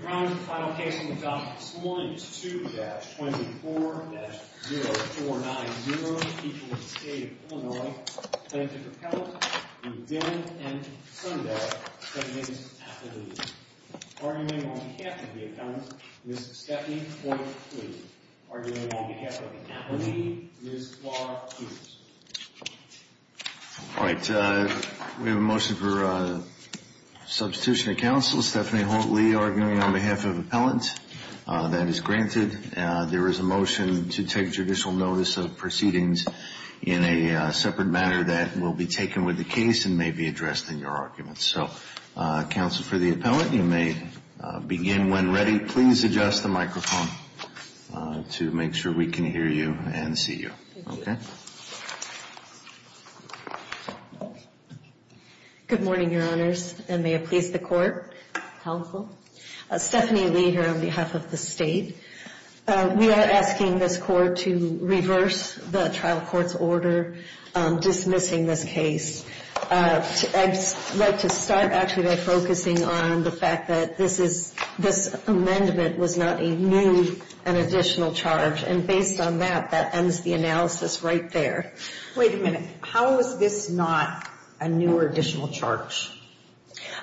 Mr. Brown, the final case on the docket this morning is 2-24-0490, people of the state of Illinois, plaintiff-appellant, Mr. Dillon and Ms. Sundell, defendants' attorneys. Arguing on behalf of the attorneys, Ms. Stephanie Holt-Lee. Arguing on behalf of the attorneys, Ms. Clark Hughes. All right, we have a motion for substitution of counsel. Stephanie Holt-Lee arguing on behalf of appellant. That is granted. There is a motion to take judicial notice of proceedings in a separate matter that will be taken with the case and may be addressed in your argument. So, counsel for the appellant, you may begin when ready. Please adjust the microphone to make sure we can hear you and see you. Okay. Good morning, your honors, and may it please the court. Stephanie Lee here on behalf of the state. We are asking this court to reverse the trial court's order dismissing this case. I'd like to start actually by focusing on the fact that this amendment was not a new and additional charge. And based on that, that ends the analysis right there. Wait a minute. How is this not a new or additional charge?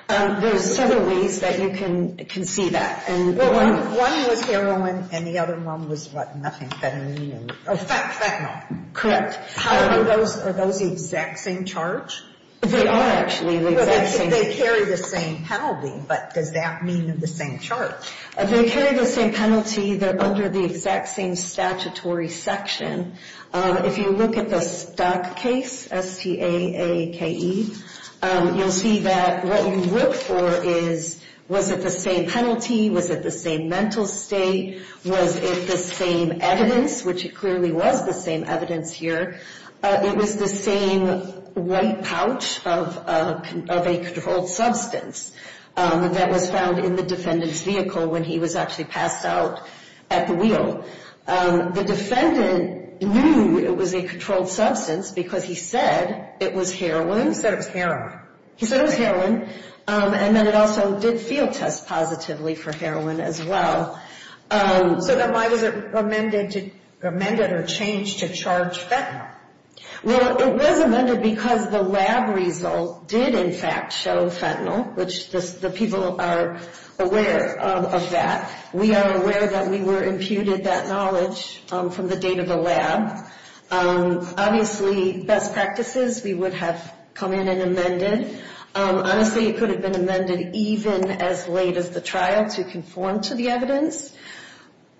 There's several ways that you can see that. One was heroin and the other one was what? Oh, fentanyl. Correct. Are those the exact same charge? They are, actually. They carry the same penalty, but does that mean they're the same charge? They carry the same penalty. They're under the exact same statutory section. If you look at the stock case, S-T-A-A-K-E, you'll see that what you look for is was it the same penalty? Was it the same mental state? Was it the same evidence, which it clearly was the same evidence here? It was the same white pouch of a controlled substance that was found in the defendant's vehicle when he was actually passed out at the wheel. The defendant knew it was a controlled substance because he said it was heroin. He said it was heroin. He said it was heroin, and then it also did field test positively for heroin as well. So then why was it amended or changed to charge fentanyl? Well, it was amended because the lab result did, in fact, show fentanyl, which the people are aware of that. We are aware that we were imputed that knowledge from the date of the lab. Obviously, best practices, we would have come in and amended. Honestly, it could have been amended even as late as the trial to conform to the evidence.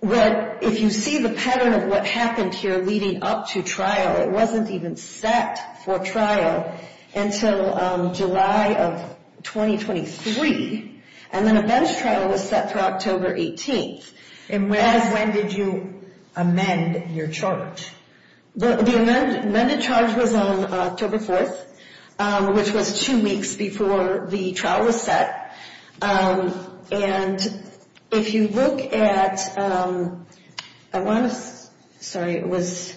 But if you see the pattern of what happened here leading up to trial, it wasn't even set for trial until July of 2023. And then a bench trial was set for October 18th. And when did you amend your charge? The amended charge was on October 4th, which was two weeks before the trial was set. And if you look at, I want to, sorry, it was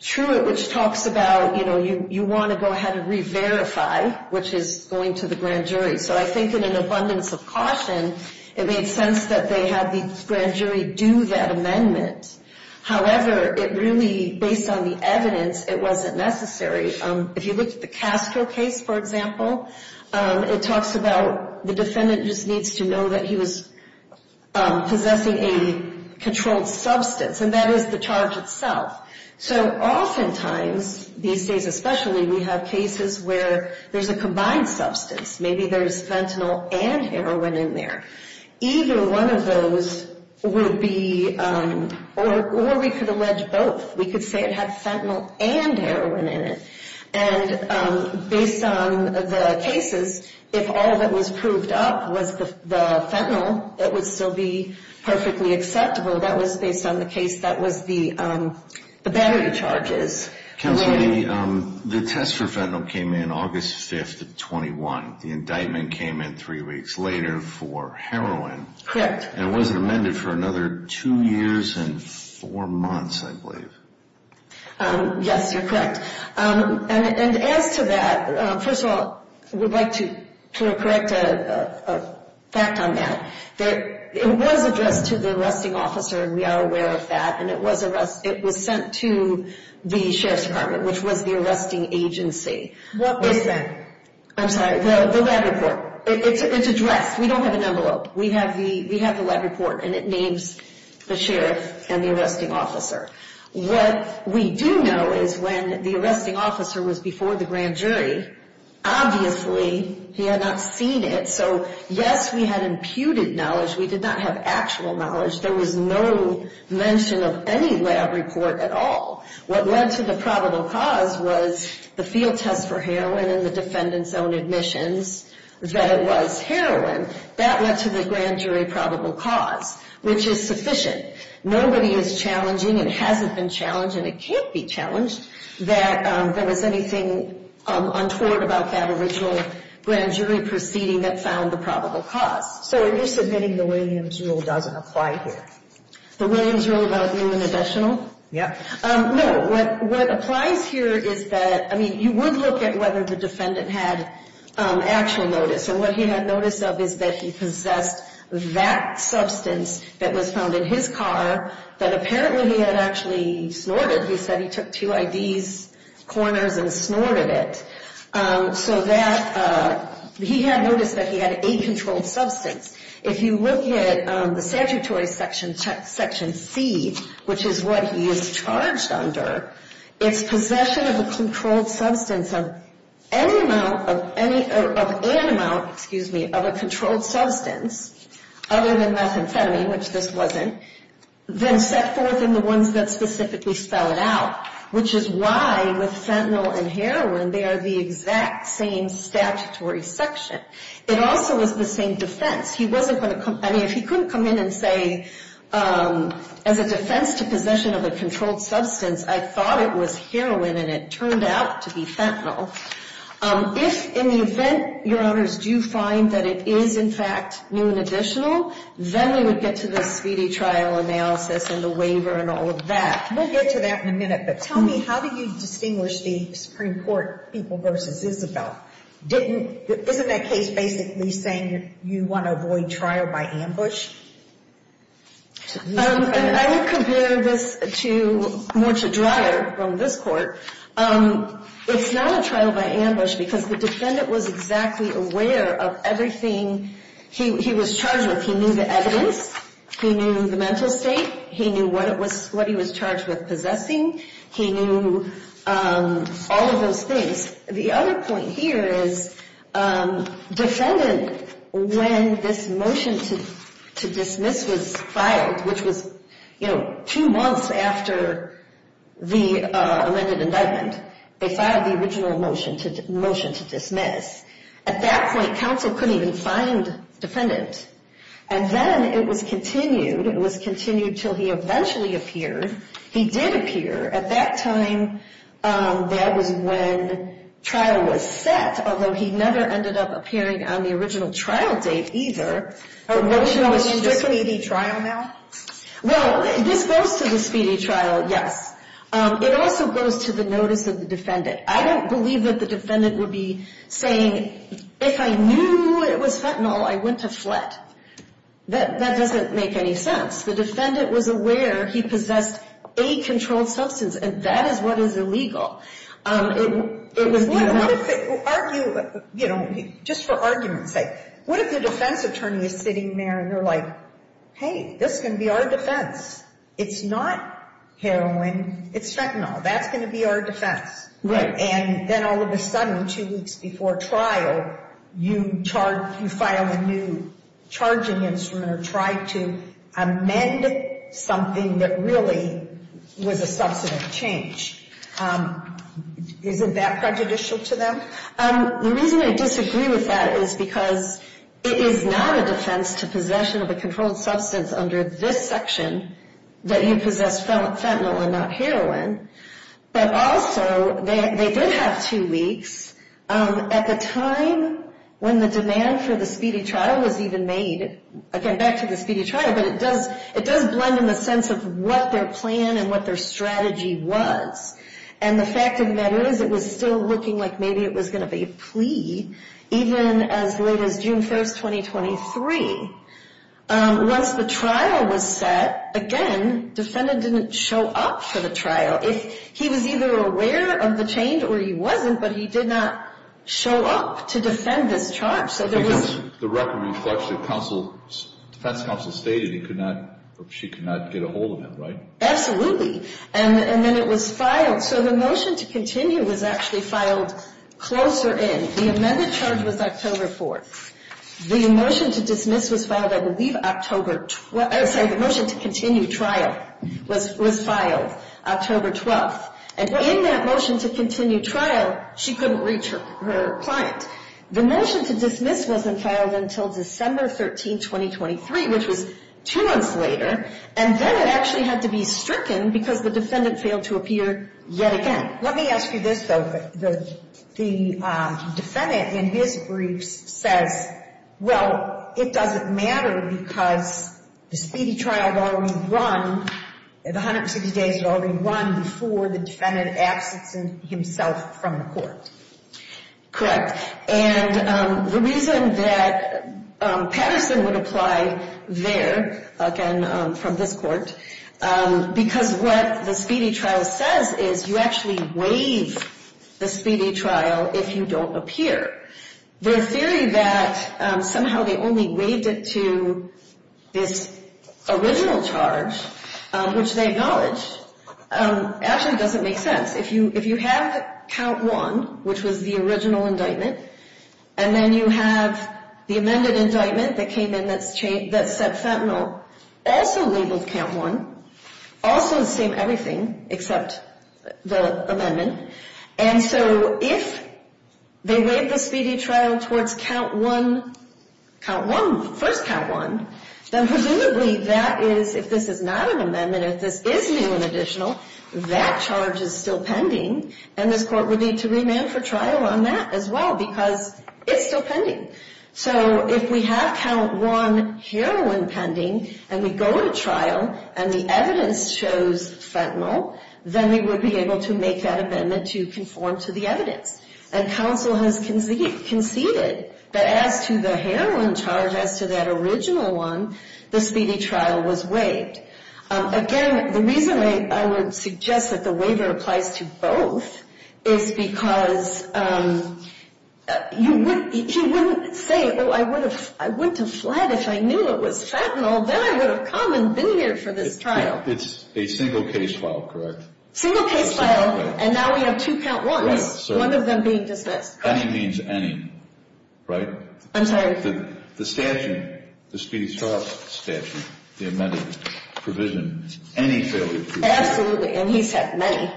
Truett, which talks about, you know, you want to go ahead and re-verify, which is going to the grand jury. So I think in an abundance of caution, it made sense that they had the grand jury do that amendment. However, it really, based on the evidence, it wasn't necessary. If you look at the Castro case, for example, it talks about the defendant just needs to know that he was possessing a controlled substance. And that is the charge itself. So oftentimes, these days especially, we have cases where there's a combined substance. Maybe there's fentanyl and heroin in there. Either one of those would be, or we could allege both. We could say it had fentanyl and heroin in it. And based on the cases, if all that was proved up was the fentanyl, it would still be perfectly acceptable. That was based on the case that was the battery charges. Counsel, the test for fentanyl came in August 5th of 21. The indictment came in three weeks later for heroin. And it wasn't amended for another two years and four months, I believe. Yes, you're correct. And as to that, first of all, I would like to correct a fact on that. It was addressed to the arresting officer, and we are aware of that. And it was sent to the Sheriff's Department, which was the arresting agency. What was that? I'm sorry, the lab report. It's addressed. We don't have an envelope. We have the lab report, and it names the sheriff and the arresting officer. What we do know is when the arresting officer was before the grand jury, obviously he had not seen it. So, yes, we had imputed knowledge. We did not have actual knowledge. There was no mention of any lab report at all. What led to the probable cause was the field test for heroin and the defendant's own admissions that it was heroin. That led to the grand jury probable cause, which is sufficient. Nobody is challenging, it hasn't been challenged, and it can't be challenged, that there was anything untoward about that original grand jury proceeding that found the probable cause. So you're submitting the Williams rule doesn't apply here? The Williams rule about new and additional? Yeah. No. What applies here is that, I mean, you would look at whether the defendant had actual notice, and what he had notice of is that he possessed that substance that was found in his car that apparently he had actually snorted. He said he took two IDs, corners, and snorted it. So that he had notice that he had a controlled substance. If you look at the statutory section C, which is what he is charged under, it's possession of a controlled substance of any amount of any, of an amount, excuse me, of a controlled substance other than methamphetamine, which this wasn't, then set forth in the ones that specifically spell it out, which is why with fentanyl and heroin, they are the exact same statutory section. It also was the same defense. He wasn't going to come, I mean, if he couldn't come in and say, as a defense to possession of a controlled substance, I thought it was heroin, and it turned out to be fentanyl. If in the event, your honors, do you find that it is, in fact, new and additional, then we would get to the speedy trial analysis and the waiver and all of that. We'll get to that in a minute, but tell me, how do you distinguish the Supreme Court people versus Isabel? Didn't, isn't that case basically saying you want to avoid trial by ambush? I would compare this to, more to Dreyer from this court. It's not a trial by ambush because the defendant was exactly aware of everything he was charged with. He knew the evidence. He knew the mental state. He knew what it was, what he was charged with possessing. He knew all of those things. The other point here is defendant, when this motion to dismiss was filed, which was, you know, two months after the amended indictment, they filed the original motion to dismiss. At that point, counsel couldn't even find defendant. And then it was continued. It was continued until he eventually appeared. He did appear. At that time, that was when trial was set, although he never ended up appearing on the original trial date either. Original is the speedy trial now? Well, this goes to the speedy trial, yes. It also goes to the notice of the defendant. I don't believe that the defendant would be saying, if I knew it was fentanyl, I went to flit. That doesn't make any sense. The defendant was aware he possessed a controlled substance, and that is what is illegal. What if they argue, you know, just for argument's sake, what if the defense attorney is sitting there, and they're like, hey, this is going to be our defense. It's not heroin. It's fentanyl. That's going to be our defense. And then all of a sudden, two weeks before trial, you file a new charging instrument or try to amend something that really was a substantive change. Isn't that prejudicial to them? The reason I disagree with that is because it is not a defense to possession of a controlled substance under this section that he possessed fentanyl and not heroin. But also, they did have two weeks. At the time when the demand for the speedy trial was even made, again, back to the speedy trial, but it does blend in the sense of what their plan and what their strategy was. And the fact of the matter is it was still looking like maybe it was going to be a plea, even as late as June 1, 2023. Once the trial was set, again, the defendant didn't show up for the trial. He was either aware of the change or he wasn't, but he did not show up to defend this charge. The record reflects the defense counsel stated she could not get a hold of him, right? Absolutely. And then it was filed. So the motion to continue was actually filed closer in. The amended charge was October 4th. The motion to dismiss was filed, I believe, October 12th. I'm sorry, the motion to continue trial was filed October 12th. And in that motion to continue trial, she couldn't reach her client. The motion to dismiss wasn't filed until December 13, 2023, which was two months later. And then it actually had to be stricken because the defendant failed to appear yet again. Let me ask you this, though. The defendant in his briefs says, well, it doesn't matter because the speedy trial had already run, the 160 days had already run before the defendant absented himself from the court. Correct. And the reason that Patterson would apply there, again, from this court, because what the speedy trial says is you actually waive the speedy trial if you don't appear. The theory that somehow they only waived it to this original charge, which they acknowledge, actually doesn't make sense. If you have count one, which was the original indictment, and then you have the amended indictment that came in that said fentanyl also labeled count one, also the same everything except the amendment. And so if they waived the speedy trial towards count one, first count one, then presumably that is, if this is not an amendment, if this is new and additional, that charge is still pending and this court would need to remand for trial on that as well because it's still pending. So if we have count one heroin pending and we go to trial and the evidence shows fentanyl, then we would be able to make that amendment to conform to the evidence. And counsel has conceded that as to the heroin charge as to that original one, the speedy trial was waived. Again, the reason I would suggest that the waiver applies to both is because you wouldn't say, oh, I wouldn't have fled if I knew it was fentanyl. Then I would have come and been here for this trial. It's a single case file, correct? Single case file. And now we have two count ones, one of them being dismissed. Any means any, right? I'm sorry. The statute, the speedy trial statute, the amended provision, any failure to do that. Absolutely. And he's had many.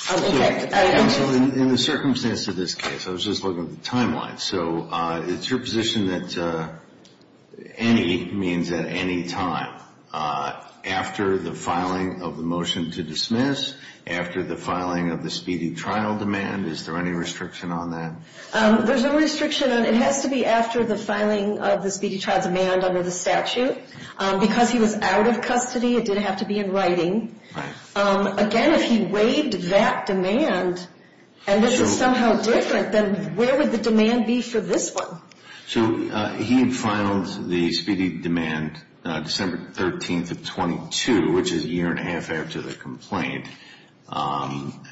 Counsel, in the circumstance of this case, I was just looking at the timeline. So it's your position that any means at any time. After the filing of the motion to dismiss, after the filing of the speedy trial demand, is there any restriction on that? There's no restriction on it. It has to be after the filing of the speedy trial demand under the statute. Because he was out of custody, it didn't have to be in writing. Again, if he waived that demand and this is somehow different, then where would the demand be for this one? So he had filed the speedy demand December 13th of 22, which is a year and a half after the complaint. Correct.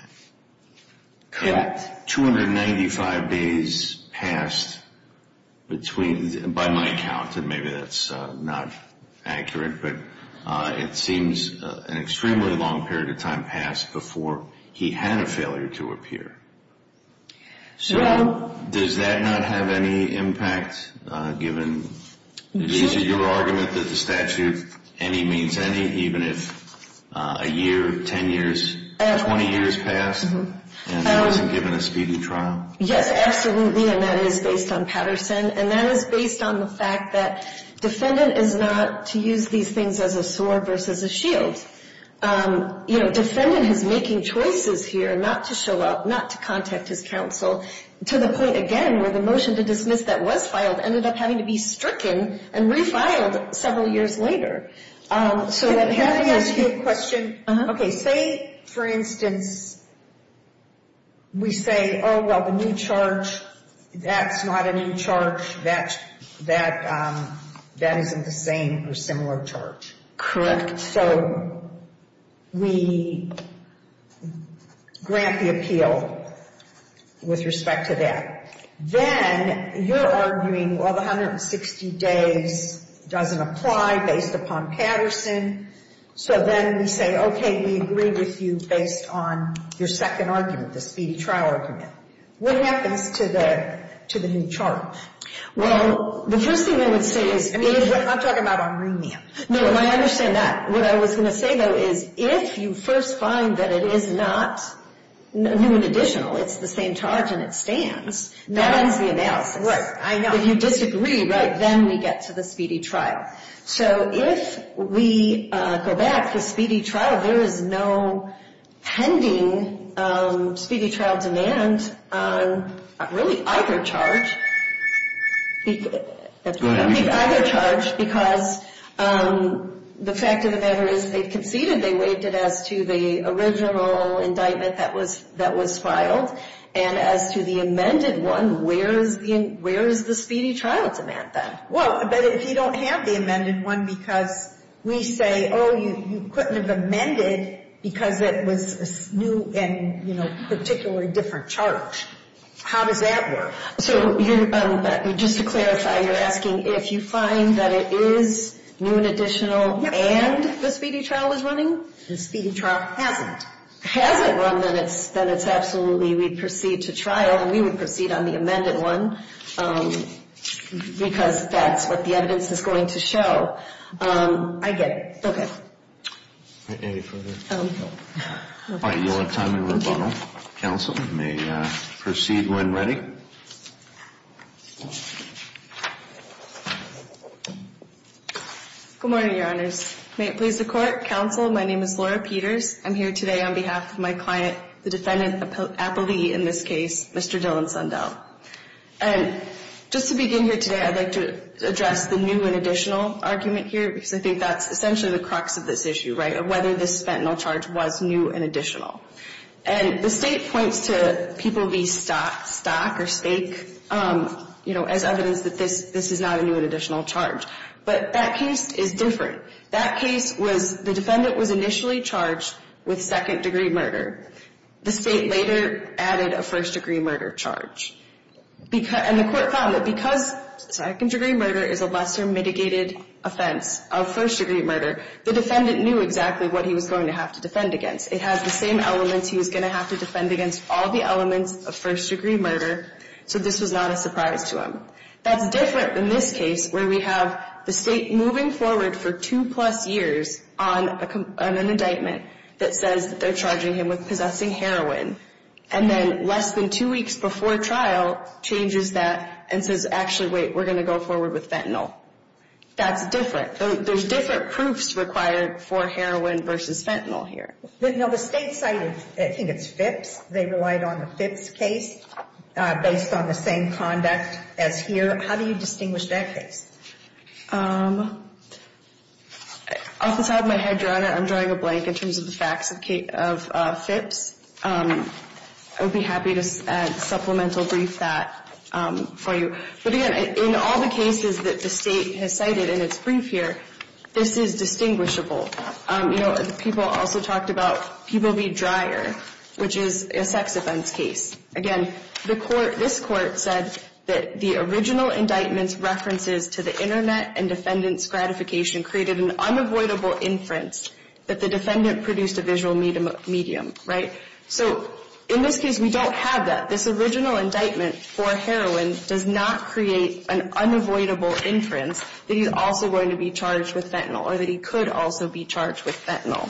295 days passed between, by my count, and maybe that's not accurate, but it seems an extremely long period of time passed before he had a failure to appear. So does that not have any impact, given your argument that the statute any means any, even if a year, 10 years, 20 years passed and he wasn't given a speedy trial? Yes, absolutely. And that is based on Patterson. And that is based on the fact that defendant is not to use these things as a sword versus a shield. You know, defendant is making choices here not to show up, not to contact his counsel, to the point, again, where the motion to dismiss that was filed ended up having to be stricken and refiled several years later. Can I ask you a question? Say, for instance, we say, oh, well, the new charge, that's not a new charge. That isn't the same or similar charge. Correct. So we grant the appeal with respect to that. Then you're arguing, well, the 160 days doesn't apply based upon Patterson. So then we say, okay, we agree with you based on your second argument, the speedy trial argument. What happens to the new charge? Well, the first thing I would say is if you're — I'm talking about on remand. No, I understand that. What I was going to say, though, is if you first find that it is not new and additional, it's the same charge and it stands, that ends the analysis. Right. I know. If you disagree, then we get to the speedy trial. So if we go back to speedy trial, there is no pending speedy trial demand on really either charge. Go ahead. I think either charge because the fact of the matter is they conceded. They waived it as to the original indictment that was filed. And as to the amended one, where is the speedy trial demand then? Well, but if you don't have the amended one because we say, oh, you couldn't have amended because it was new and, you know, particularly different charge, how does that work? So you're — just to clarify, you're asking if you find that it is new and additional and the speedy trial is running? The speedy trial hasn't. Hasn't run, then it's absolutely — we'd proceed to trial and we would proceed on the amended one because that's what the evidence is going to show. I get it. Okay. Any further? All right. You'll have time to rebuttal. Counsel may proceed when ready. Good morning, Your Honors. May it please the Court. Counsel, my name is Laura Peters. I'm here today on behalf of my client, the defendant appellee in this case, Mr. Dillon Sundell. And just to begin here today, I'd like to address the new and additional argument here because I think that's essentially the crux of this issue, right, of whether this fentanyl charge was new and additional. And the State points to PPOV stock or stake, you know, as evidence that this is not a new and additional charge. But that case is different. That case was — the defendant was initially charged with second-degree murder. The State later added a first-degree murder charge. And the Court found that because second-degree murder is a lesser mitigated offense of first-degree murder, the defendant knew exactly what he was going to have to defend against. It has the same elements he was going to have to defend against all the elements of first-degree murder. So this was not a surprise to him. That's different in this case where we have the State moving forward for two-plus years on an indictment that says that they're charging him with possessing heroin. And then less than two weeks before trial, changes that and says, actually, wait, we're going to go forward with fentanyl. That's different. There's different proofs required for heroin versus fentanyl here. Now, the State cited — I think it's Phipps. They relied on the Phipps case based on the same conduct as here. How do you distinguish that case? Off the top of my head, Your Honor, I'm drawing a blank in terms of the facts of Phipps. I would be happy to add supplemental brief that for you. But, again, in all the cases that the State has cited in its brief here, this is distinguishable. You know, people also talked about Peebleby Dryer, which is a sex offense case. Again, the court — this court said that the original indictment's references to the internet and defendant's gratification created an unavoidable inference that the defendant produced a visual medium, right? So in this case, we don't have that. This original indictment for heroin does not create an unavoidable inference that he's also going to be charged with fentanyl or that he could also be charged with fentanyl,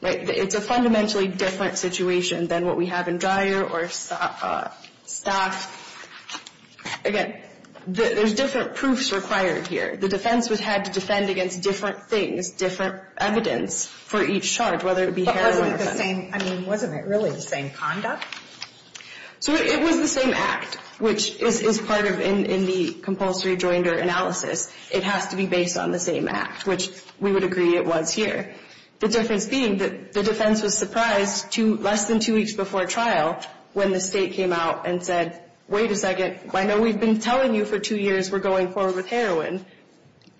right? It's a fundamentally different situation than what we have in Dryer or Staff. Again, there's different proofs required here. The defense had to defend against different things, different evidence for each charge, whether it be heroin or fentanyl. But wasn't it the same — I mean, wasn't it really the same conduct? So it was the same act, which is part of — in the compulsory joinder analysis. It has to be based on the same act, which we would agree it was here. The difference being that the defense was surprised to less than two weeks before trial when the State came out and said, wait a second, I know we've been telling you for two years we're going forward with heroin,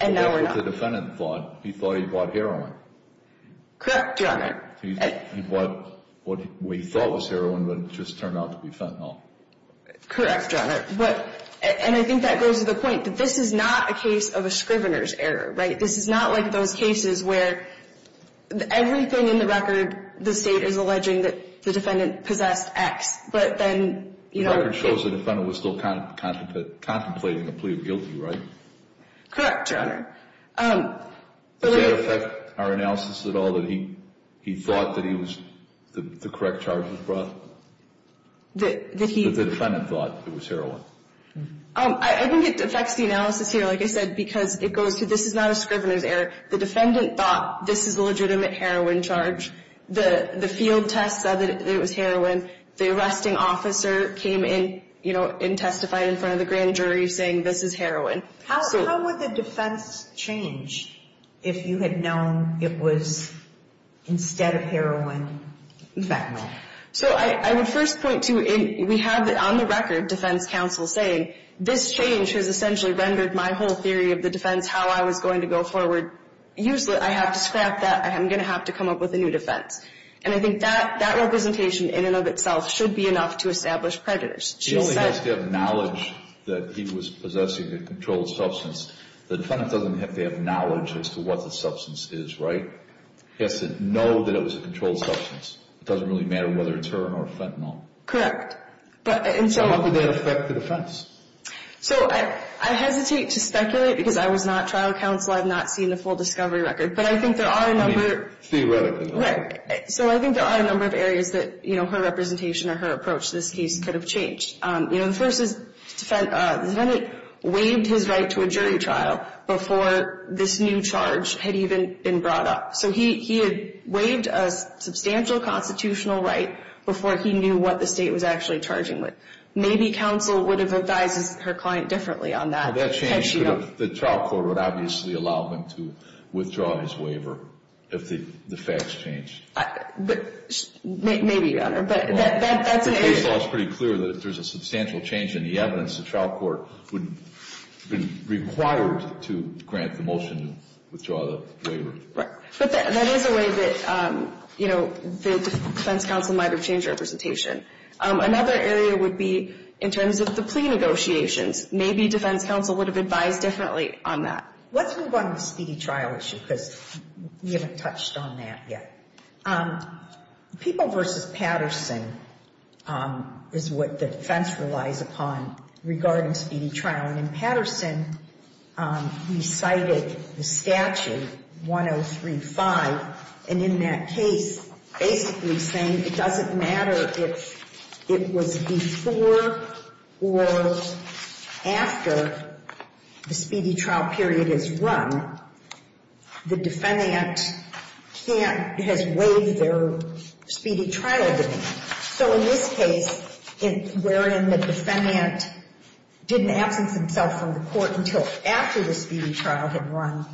and now we're not. But that's what the defendant thought. He thought he bought heroin. Correct, Your Honor. He bought what he thought was heroin, but it just turned out to be fentanyl. Correct, Your Honor. And I think that goes to the point that this is not a case of a scrivener's error, right? This is not like those cases where everything in the record, the State is alleging that the defendant possessed X. But then — The record shows the defendant was still contemplating a plea of guilty, right? Correct, Your Honor. Does that affect our analysis at all, that he thought that he was — that the correct charge was brought? That he — That the defendant thought it was heroin. I think it affects the analysis here, like I said, because it goes to this is not a scrivener's error. The defendant thought this is a legitimate heroin charge. The field test said that it was heroin. The arresting officer came in, you know, and testified in front of the grand jury saying this is heroin. How would the defense change if you had known it was instead of heroin, fentanyl? So I would first point to — we have on the record defense counsel saying this change has essentially rendered my whole theory of the defense, how I was going to go forward useless. I have to scrap that. I'm going to have to come up with a new defense. And I think that representation in and of itself should be enough to establish prejudice. She only has to have knowledge that he was possessing a controlled substance. The defendant doesn't have to have knowledge as to what the substance is, right? He has to know that it was a controlled substance. It doesn't really matter whether it's heroin or fentanyl. So how could that affect the defense? So I hesitate to speculate because I was not trial counsel. I have not seen the full discovery record. But I think there are a number — Theoretically. Right. So I think there are a number of areas that, you know, her representation or her approach to this case could have changed. You know, the first is the defendant waived his right to a jury trial before this new charge had even been brought up. So he had waived a substantial constitutional right before he knew what the state was actually charging with. Maybe counsel would have advised her client differently on that. That change could have — the trial court would obviously allow him to withdraw his waiver if the facts changed. Maybe, Your Honor. But that's a — The case law is pretty clear that if there's a substantial change in the evidence, the trial court would be required to grant the motion to withdraw the waiver. Right. But that is a way that, you know, the defense counsel might have changed her representation. Another area would be in terms of the plea negotiations. Maybe defense counsel would have advised differently on that. Let's move on to the speedy trial issue because we haven't touched on that yet. People v. Patterson is what the defense relies upon regarding speedy trial. And in Patterson, we cited the statute, 103.5. And in that case, basically saying it doesn't matter if it was before or after the speedy trial period is run. The defendant can't — has waived their speedy trial demand. So in this case, wherein the defendant didn't absence himself from the court until after the speedy trial had run,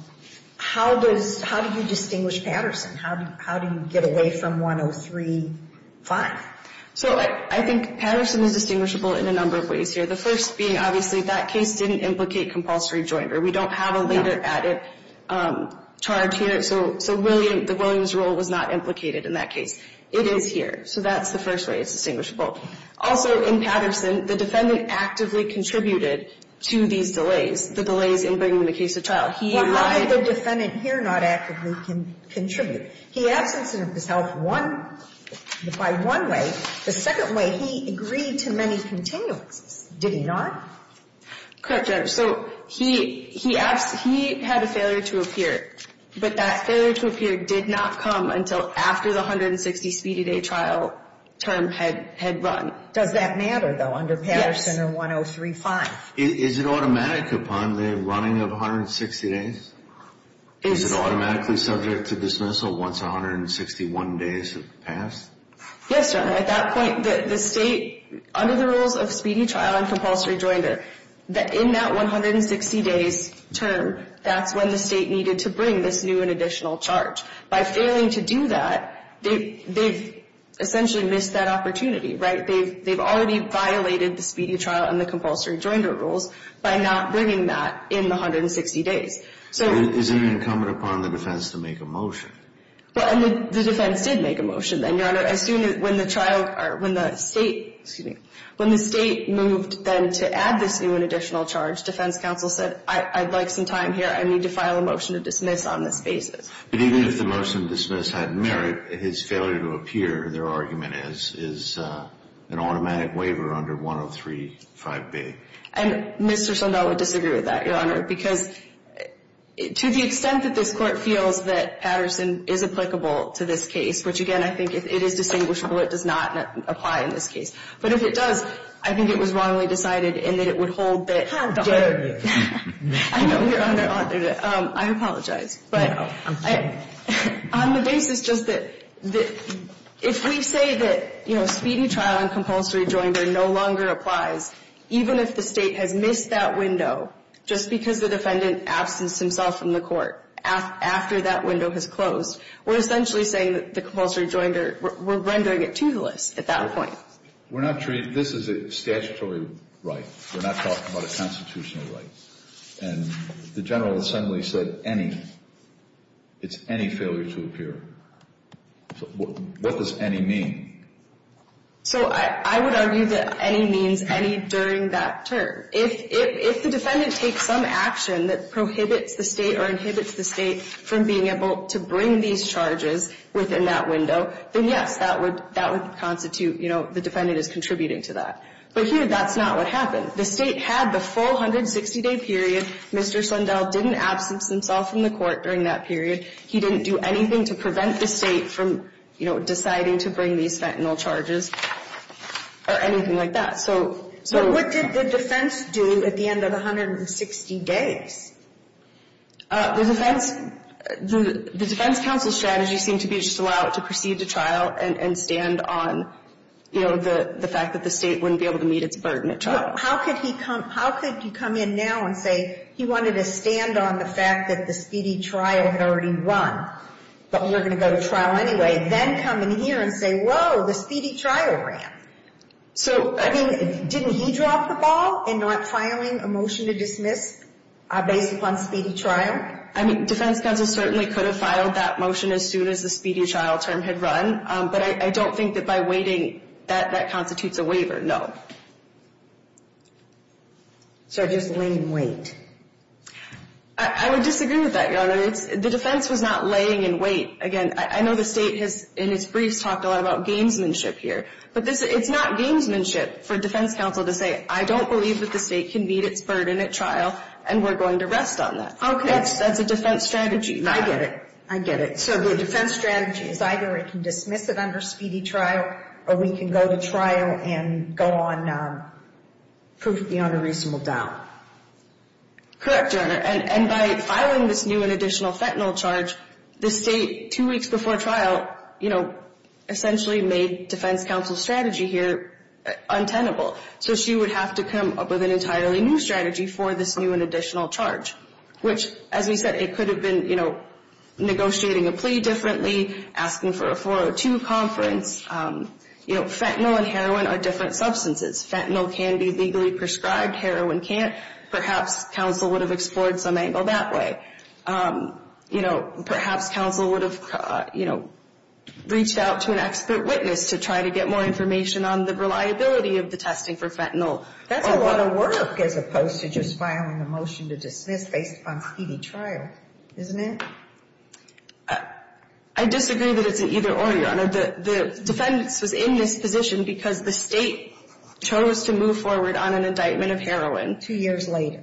how does — how do you distinguish Patterson? How do you get away from 103.5? So I think Patterson is distinguishable in a number of ways here. The first being, obviously, that case didn't implicate compulsory joinder. We don't have a later added charge here. So William — the Williams rule was not implicated in that case. It is here. So that's the first way it's distinguishable. Also, in Patterson, the defendant actively contributed to these delays, the delays in bringing the case to trial. He lied — Well, how did the defendant here not actively contribute? He absence himself one — by one way. The second way, he agreed to many continuances. Did he not? Correct, Judge. So he had a failure to appear. But that failure to appear did not come until after the 160 speedy day trial term had run. Does that matter, though, under Patterson or 103.5? Yes. Is it automatic upon the running of 160 days? Is it automatically subject to dismissal once 161 days have passed? Yes, Your Honor. At that point, the State, under the rules of speedy trial and compulsory joinder, in that 160 days term, that's when the State needed to bring this new and additional charge. By failing to do that, they've essentially missed that opportunity, right? They've already violated the speedy trial and the compulsory joinder rules by not bringing that in the 160 days. So — Is it incumbent upon the defense to make a motion? Well, and the defense did make a motion then, Your Honor. As soon as — when the trial — or when the State — excuse me — when the State moved then to add this new and additional charge, defense counsel said, I'd like some time here. I need to file a motion to dismiss on this basis. But even if the motion to dismiss had merit, his failure to appear, their argument is, is an automatic waiver under 103.5b. And Mr. Sundell would disagree with that, Your Honor, because to the extent that this Court feels that Patterson is applicable to this case, which, again, I think, if it is distinguishable, it does not apply in this case. But if it does, I think it was wrongly decided and that it would hold that — How dare you. I know. You're under — I apologize. But on the basis just that — if we say that, you know, speedy trial and compulsory joinder no longer applies, even if the State has missed that window just because the defendant absents himself from the court after that window has closed, we're essentially saying that the compulsory joinder — we're rendering it toothless at that point. We're not — this is a statutory right. We're not talking about a constitutional right. And the General Assembly said any. It's any failure to appear. What does any mean? So I would argue that any means any during that term. If the defendant takes some action that prohibits the State or inhibits the State from being able to bring these charges within that window, then, yes, that would constitute — you know, the defendant is contributing to that. But here, that's not what happened. The State had the full 160-day period. Mr. Sundell didn't absence himself from the court during that period. He didn't do anything to prevent the State from, you know, deciding to bring these fentanyl charges or anything like that. So — But what did the defense do at the end of the 160 days? The defense — the defense counsel's strategy seemed to be to just allow it to proceed to trial and stand on, you know, the fact that the State wouldn't be able to meet its burden at trial. How could he come — how could he come in now and say he wanted to stand on the fact that the speedy trial had already run, but we were going to go to trial anyway, then come in here and say, whoa, the speedy trial ran? So — I mean, didn't he drop the ball in not filing a motion to dismiss based upon speedy trial? I mean, defense counsel certainly could have filed that motion as soon as the speedy trial term had run. But I don't think that by waiting, that constitutes a waiver, no. So just laying in wait. I would disagree with that, Your Honor. The defense was not laying in wait. Again, I know the State has, in its briefs, talked a lot about gamesmanship here. But this — it's not gamesmanship for defense counsel to say, I don't believe that the State can meet its burden at trial and we're going to rest on that. Okay. That's a defense strategy. I get it. I get it. So the defense strategy is either it can dismiss it under speedy trial or we can go to trial and go on proof beyond a reasonable doubt. Correct, Your Honor. And by filing this new and additional fentanyl charge, the State, two weeks before trial, you know, essentially made defense counsel's strategy here untenable. So she would have to come up with an entirely new strategy for this new and additional charge, which, as we said, it could have been, you know, negotiating a plea differently, asking for a 402 conference. You know, fentanyl and heroin are different substances. Fentanyl can be legally prescribed. Heroin can't. Perhaps counsel would have explored some angle that way. You know, perhaps counsel would have, you know, reached out to an expert witness to try to get more information on the reliability of the testing for fentanyl. That's a lot of work as opposed to just filing a motion to dismiss based upon speedy trial, isn't it? I disagree that it's an either-or, Your Honor. The defense was in this position because the State chose to move forward on an indictment of heroin. Two years later.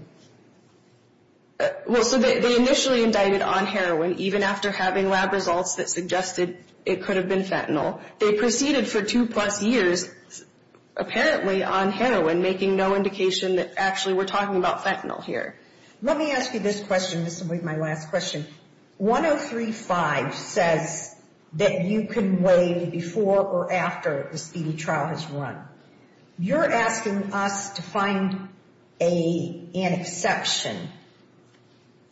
Well, so they initially indicted on heroin, even after having lab results that suggested it could have been fentanyl. They proceeded for two-plus years, apparently on heroin, making no indication that actually we're talking about fentanyl here. Let me ask you this question. This will be my last question. 103.5 says that you can waive before or after the speedy trial has run. You're asking us to find an exception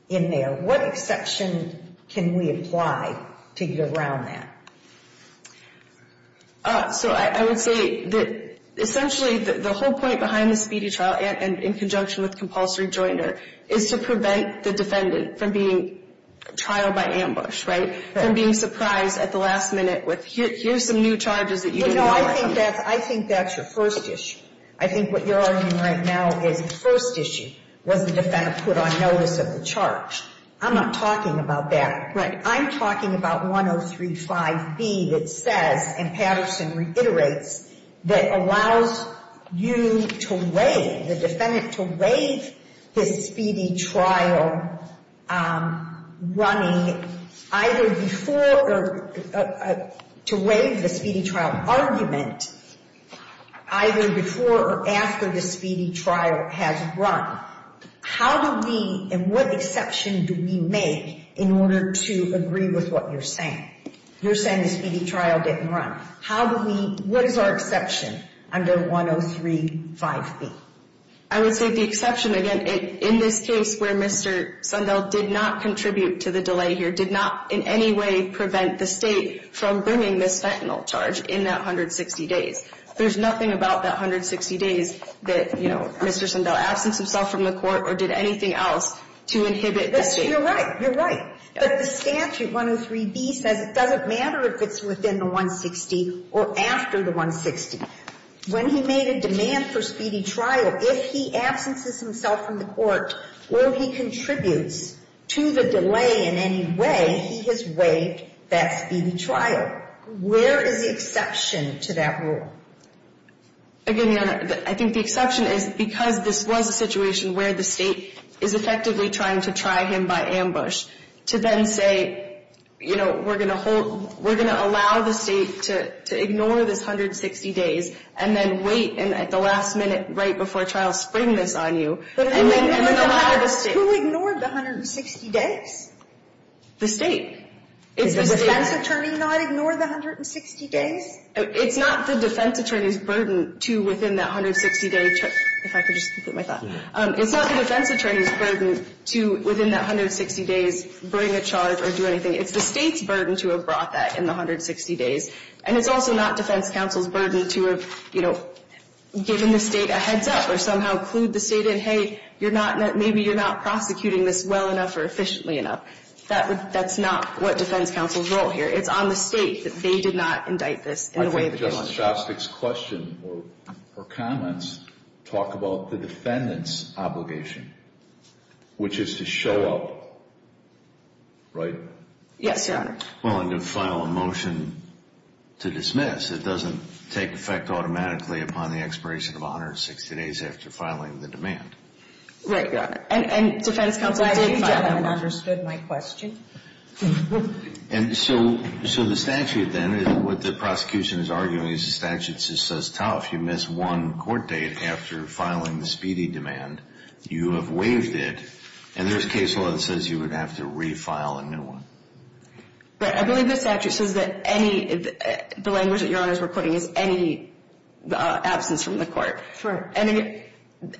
in there. What exception can we apply to get around that? So I would say that essentially the whole point behind the speedy trial, and in conjunction with compulsory jointer, is to prevent the defendant from being trialed by ambush, right? From being surprised at the last minute with, here's some new charges that you didn't want to see. I think that's your first issue. I think what you're arguing right now is the first issue was the defendant put on notice of the charge. I'm not talking about that. I'm talking about 103.5b that says, and Patterson reiterates, that allows you to waive, the defendant to waive his speedy trial running, either before or, to waive the speedy trial argument, either before or after the speedy trial has run. How do we, and what exception do we make in order to agree with what you're saying? You're saying the speedy trial didn't run. How do we, what is our exception under 103.5b? I would say the exception, again, in this case where Mr. Sundell did not contribute to the delay here, did not in any way prevent the State from bringing this fentanyl charge in that 160 days. There's nothing about that 160 days that, you know, Mr. Sundell absented himself from the court or did anything else to inhibit the State. You're right. You're right. But the statute, 103b, says it doesn't matter if it's within the 160 or after the 160. When he made a demand for speedy trial, if he absences himself from the court or he contributes to the delay in any way, he has waived that speedy trial. Where is the exception to that rule? Again, Your Honor, I think the exception is because this was a situation where the State is effectively trying to try him by ambush, to then say, you know, we're going to hold, we're going to allow the State to ignore this 160 days and then wait at the last minute right before trial, spring this on you and allow the State. Who ignored the 160 days? The State. Did the defense attorney not ignore the 160 days? It's not the defense attorney's burden to, within that 160 day, if I could just put my thought. It's not the defense attorney's burden to, within that 160 days, bring a charge or do anything. It's the State's burden to have brought that in the 160 days. And it's also not defense counsel's burden to have, you know, given the State a heads-up or somehow clued the State in, hey, you're not, maybe you're not prosecuting this well enough or efficiently enough. That's not what defense counsel's role here. It's on the State that they did not indict this in a way that they wanted. I think Justice Shostak's question or comments talk about the defendant's obligation, which is to show up, right? Yes, Your Honor. Well, and to file a motion to dismiss. It doesn't take effect automatically upon the expiration of 160 days after filing the demand. Right, Your Honor. And defense counsel did file a motion. I think the gentleman understood my question. And so the statute then, what the prosecution is arguing is the statute says tough. You miss one court date after filing the speedy demand. You have waived it. And there's case law that says you would have to refile a new one. Right. I believe the statute says that any, the language that Your Honors were putting is any absence from the court. Sure. And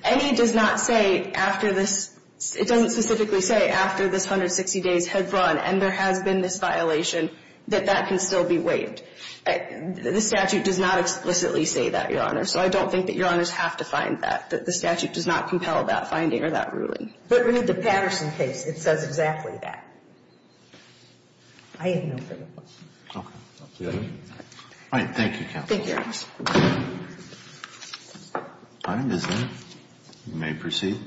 any does not say after this, it doesn't specifically say after this 160 days had run and there has been this violation that that can still be waived. The statute does not explicitly say that, Your Honor. So I don't think that Your Honors have to find that, that the statute does not compel that finding or that ruling. But with the Patterson case, it says exactly that. I have no further questions. Okay. All right. Thank you, counsel. Thank you, Your Honor. If I may proceed.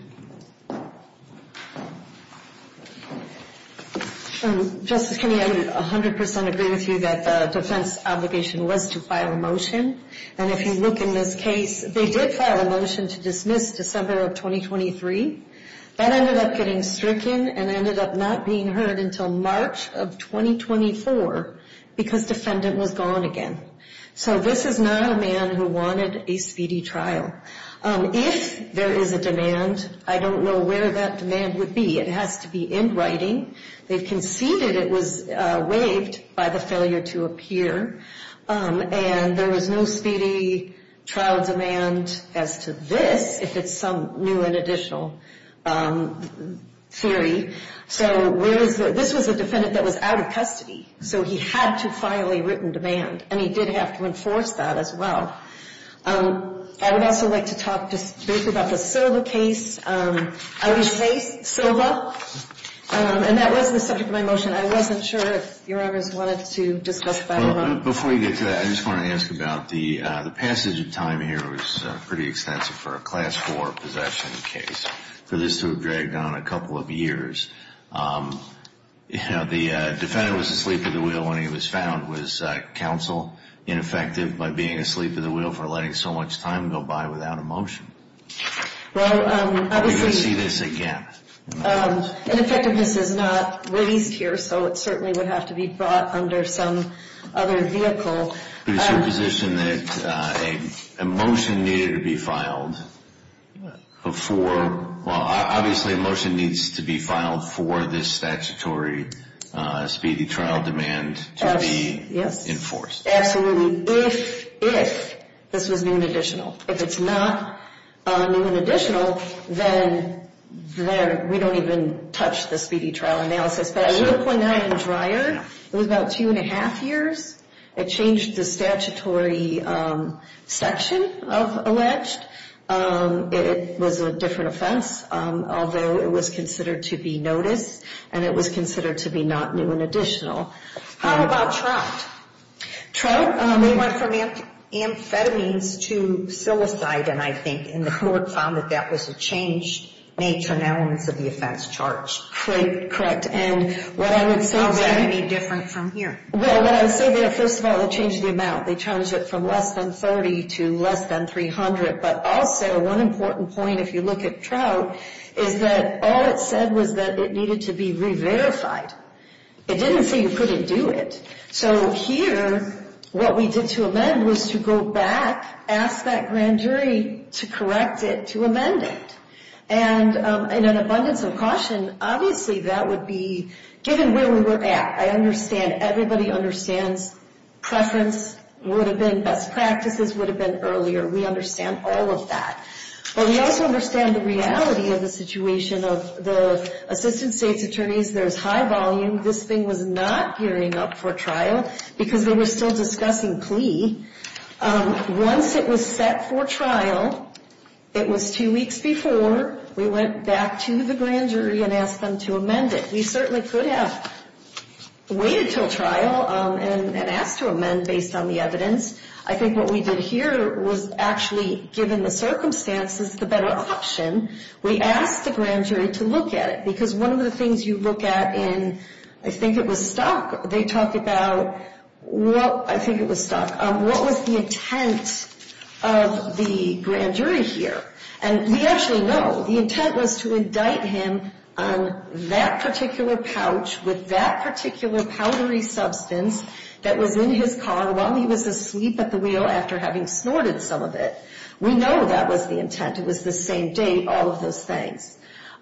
Justice Kennedy, I would 100% agree with you that the defense obligation was to file a motion. And if you look in this case, they did file a motion to dismiss December of 2023. That ended up getting stricken and ended up not being heard until March of 2024 because defendant was gone again. So this is not a man who wanted a speedy trial. If there is a demand, I don't know where that demand would be. It has to be in writing. They conceded it was waived by the failure to appear. And there was no speedy trial demand as to this, if it's some new and additional theory. So where is the, this was a defendant that was out of custody. So he had to file a written demand. And he did have to enforce that as well. I would also like to talk just briefly about the Silva case. I always say Silva. And that was the subject of my motion. I wasn't sure if Your Honors wanted to discuss that at all. Before you get to that, I just want to ask about the passage of time here, which is pretty extensive for a Class IV possession case. For this to have dragged on a couple of years. You know, the defendant was asleep at the wheel when he was found. Was counsel ineffective by being asleep at the wheel for letting so much time go by without a motion? Well, obviously. We're going to see this again. Ineffectiveness is not released here, so it certainly would have to be brought under some other vehicle. But it's your position that a motion needed to be filed before, well, obviously a motion needs to be filed for this statutory speedy trial demand to be enforced. Absolutely. If this was new and additional. If it's not new and additional, then we don't even touch the speedy trial analysis. But I will point out in Dreyer, it was about two and a half years. It changed the statutory section of alleged. It was a different offense, although it was considered to be noticed. And it was considered to be not new and additional. How about Trout? Trout, they went from amphetamines to psilocybin, I think. And the court found that that was a change in nature and elements of the offense charged. Correct. And what I would say there. How's that going to be different from here? Well, what I would say there, first of all, they changed the amount. They changed it from less than 30 to less than 300. But also, one important point, if you look at Trout, is that all it said was that it needed to be re-verified. It didn't say you couldn't do it. So here, what we did to amend was to go back, ask that grand jury to correct it to amend it. And in an abundance of caution, obviously that would be given where we were at. I understand everybody understands preference would have been best practices would have been earlier. We understand all of that. But we also understand the reality of the situation of the assistant state's attorneys. There's high volume. This thing was not gearing up for trial because they were still discussing plea. Once it was set for trial, it was two weeks before we went back to the grand jury and asked them to amend it. We certainly could have waited until trial and asked to amend based on the evidence. I think what we did here was actually, given the circumstances, the better option, we asked the grand jury to look at it. Because one of the things you look at in, I think it was stuck, they talk about, well, I think it was stuck. What was the intent of the grand jury here? And we actually know the intent was to indict him on that particular pouch with that particular powdery substance that was in his car while he was asleep at the wheel after having snorted some of it. We know that was the intent. It was the same date, all of those things.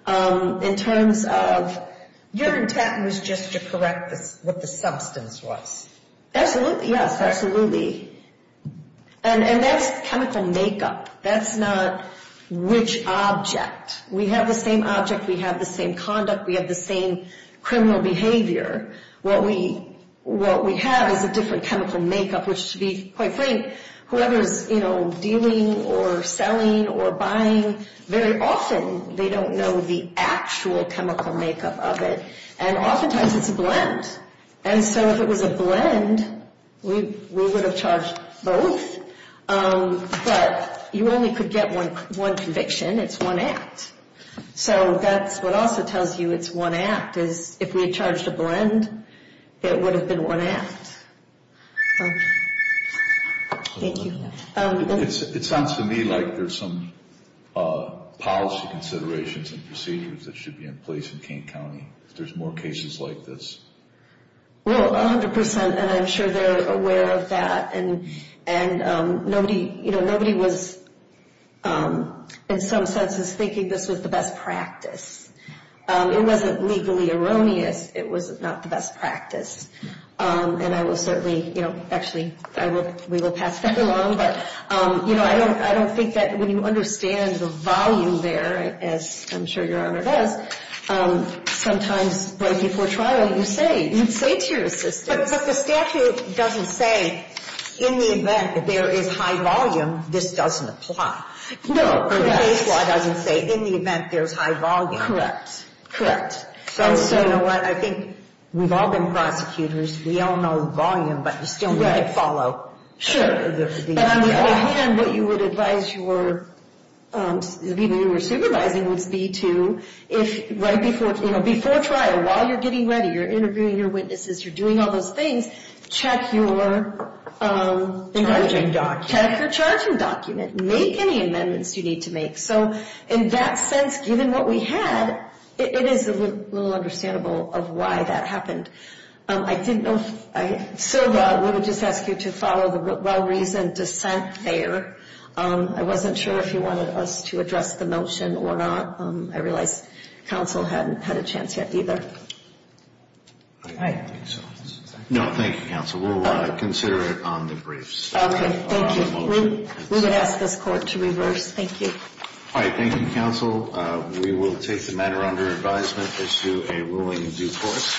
In terms of your intent was just to correct what the substance was. Yes, absolutely. And that's chemical makeup. That's not which object. We have the same object. We have the same conduct. We have the same criminal behavior. What we have is a different chemical makeup, which to be quite frank, whoever is dealing or selling or buying, very often they don't know the actual chemical makeup of it. And oftentimes it's a blend. And so if it was a blend, we would have charged both. But you only could get one conviction. It's one act. So that's what also tells you it's one act, is if we had charged a blend, it would have been one act. Thank you. It sounds to me like there's some policy considerations and procedures that should be in place in King County, if there's more cases like this. Well, 100 percent, and I'm sure they're aware of that. And nobody was, in some senses, thinking this was the best practice. It wasn't legally erroneous. It was not the best practice. And I will certainly, you know, actually, we will pass that along. But, you know, I don't think that when you understand the volume there, as I'm sure Your Honor does, sometimes right before trial you say to your assistants. But the statute doesn't say in the event that there is high volume, this doesn't apply. No. The case law doesn't say in the event there's high volume. Correct. Correct. So, you know what, I think we've all been prosecutors. We all know the volume, but we still need to follow. And on the other hand, what you would advise your people you were supervising would be to, right before trial, while you're getting ready, you're interviewing your witnesses, you're doing all those things, check your charging document. Make any amendments you need to make. So, in that sense, given what we had, it is a little understandable of why that happened. I didn't know, Sylva, I would just ask you to follow the well-reasoned dissent there. I wasn't sure if you wanted us to address the motion or not. I realize counsel hadn't had a chance yet either. No, thank you, counsel. We'll consider it on the briefs. Okay. Thank you. We would ask this court to reverse. Thank you. All right. Thank you, counsel. We will take the matter under advisement, issue a ruling in due course.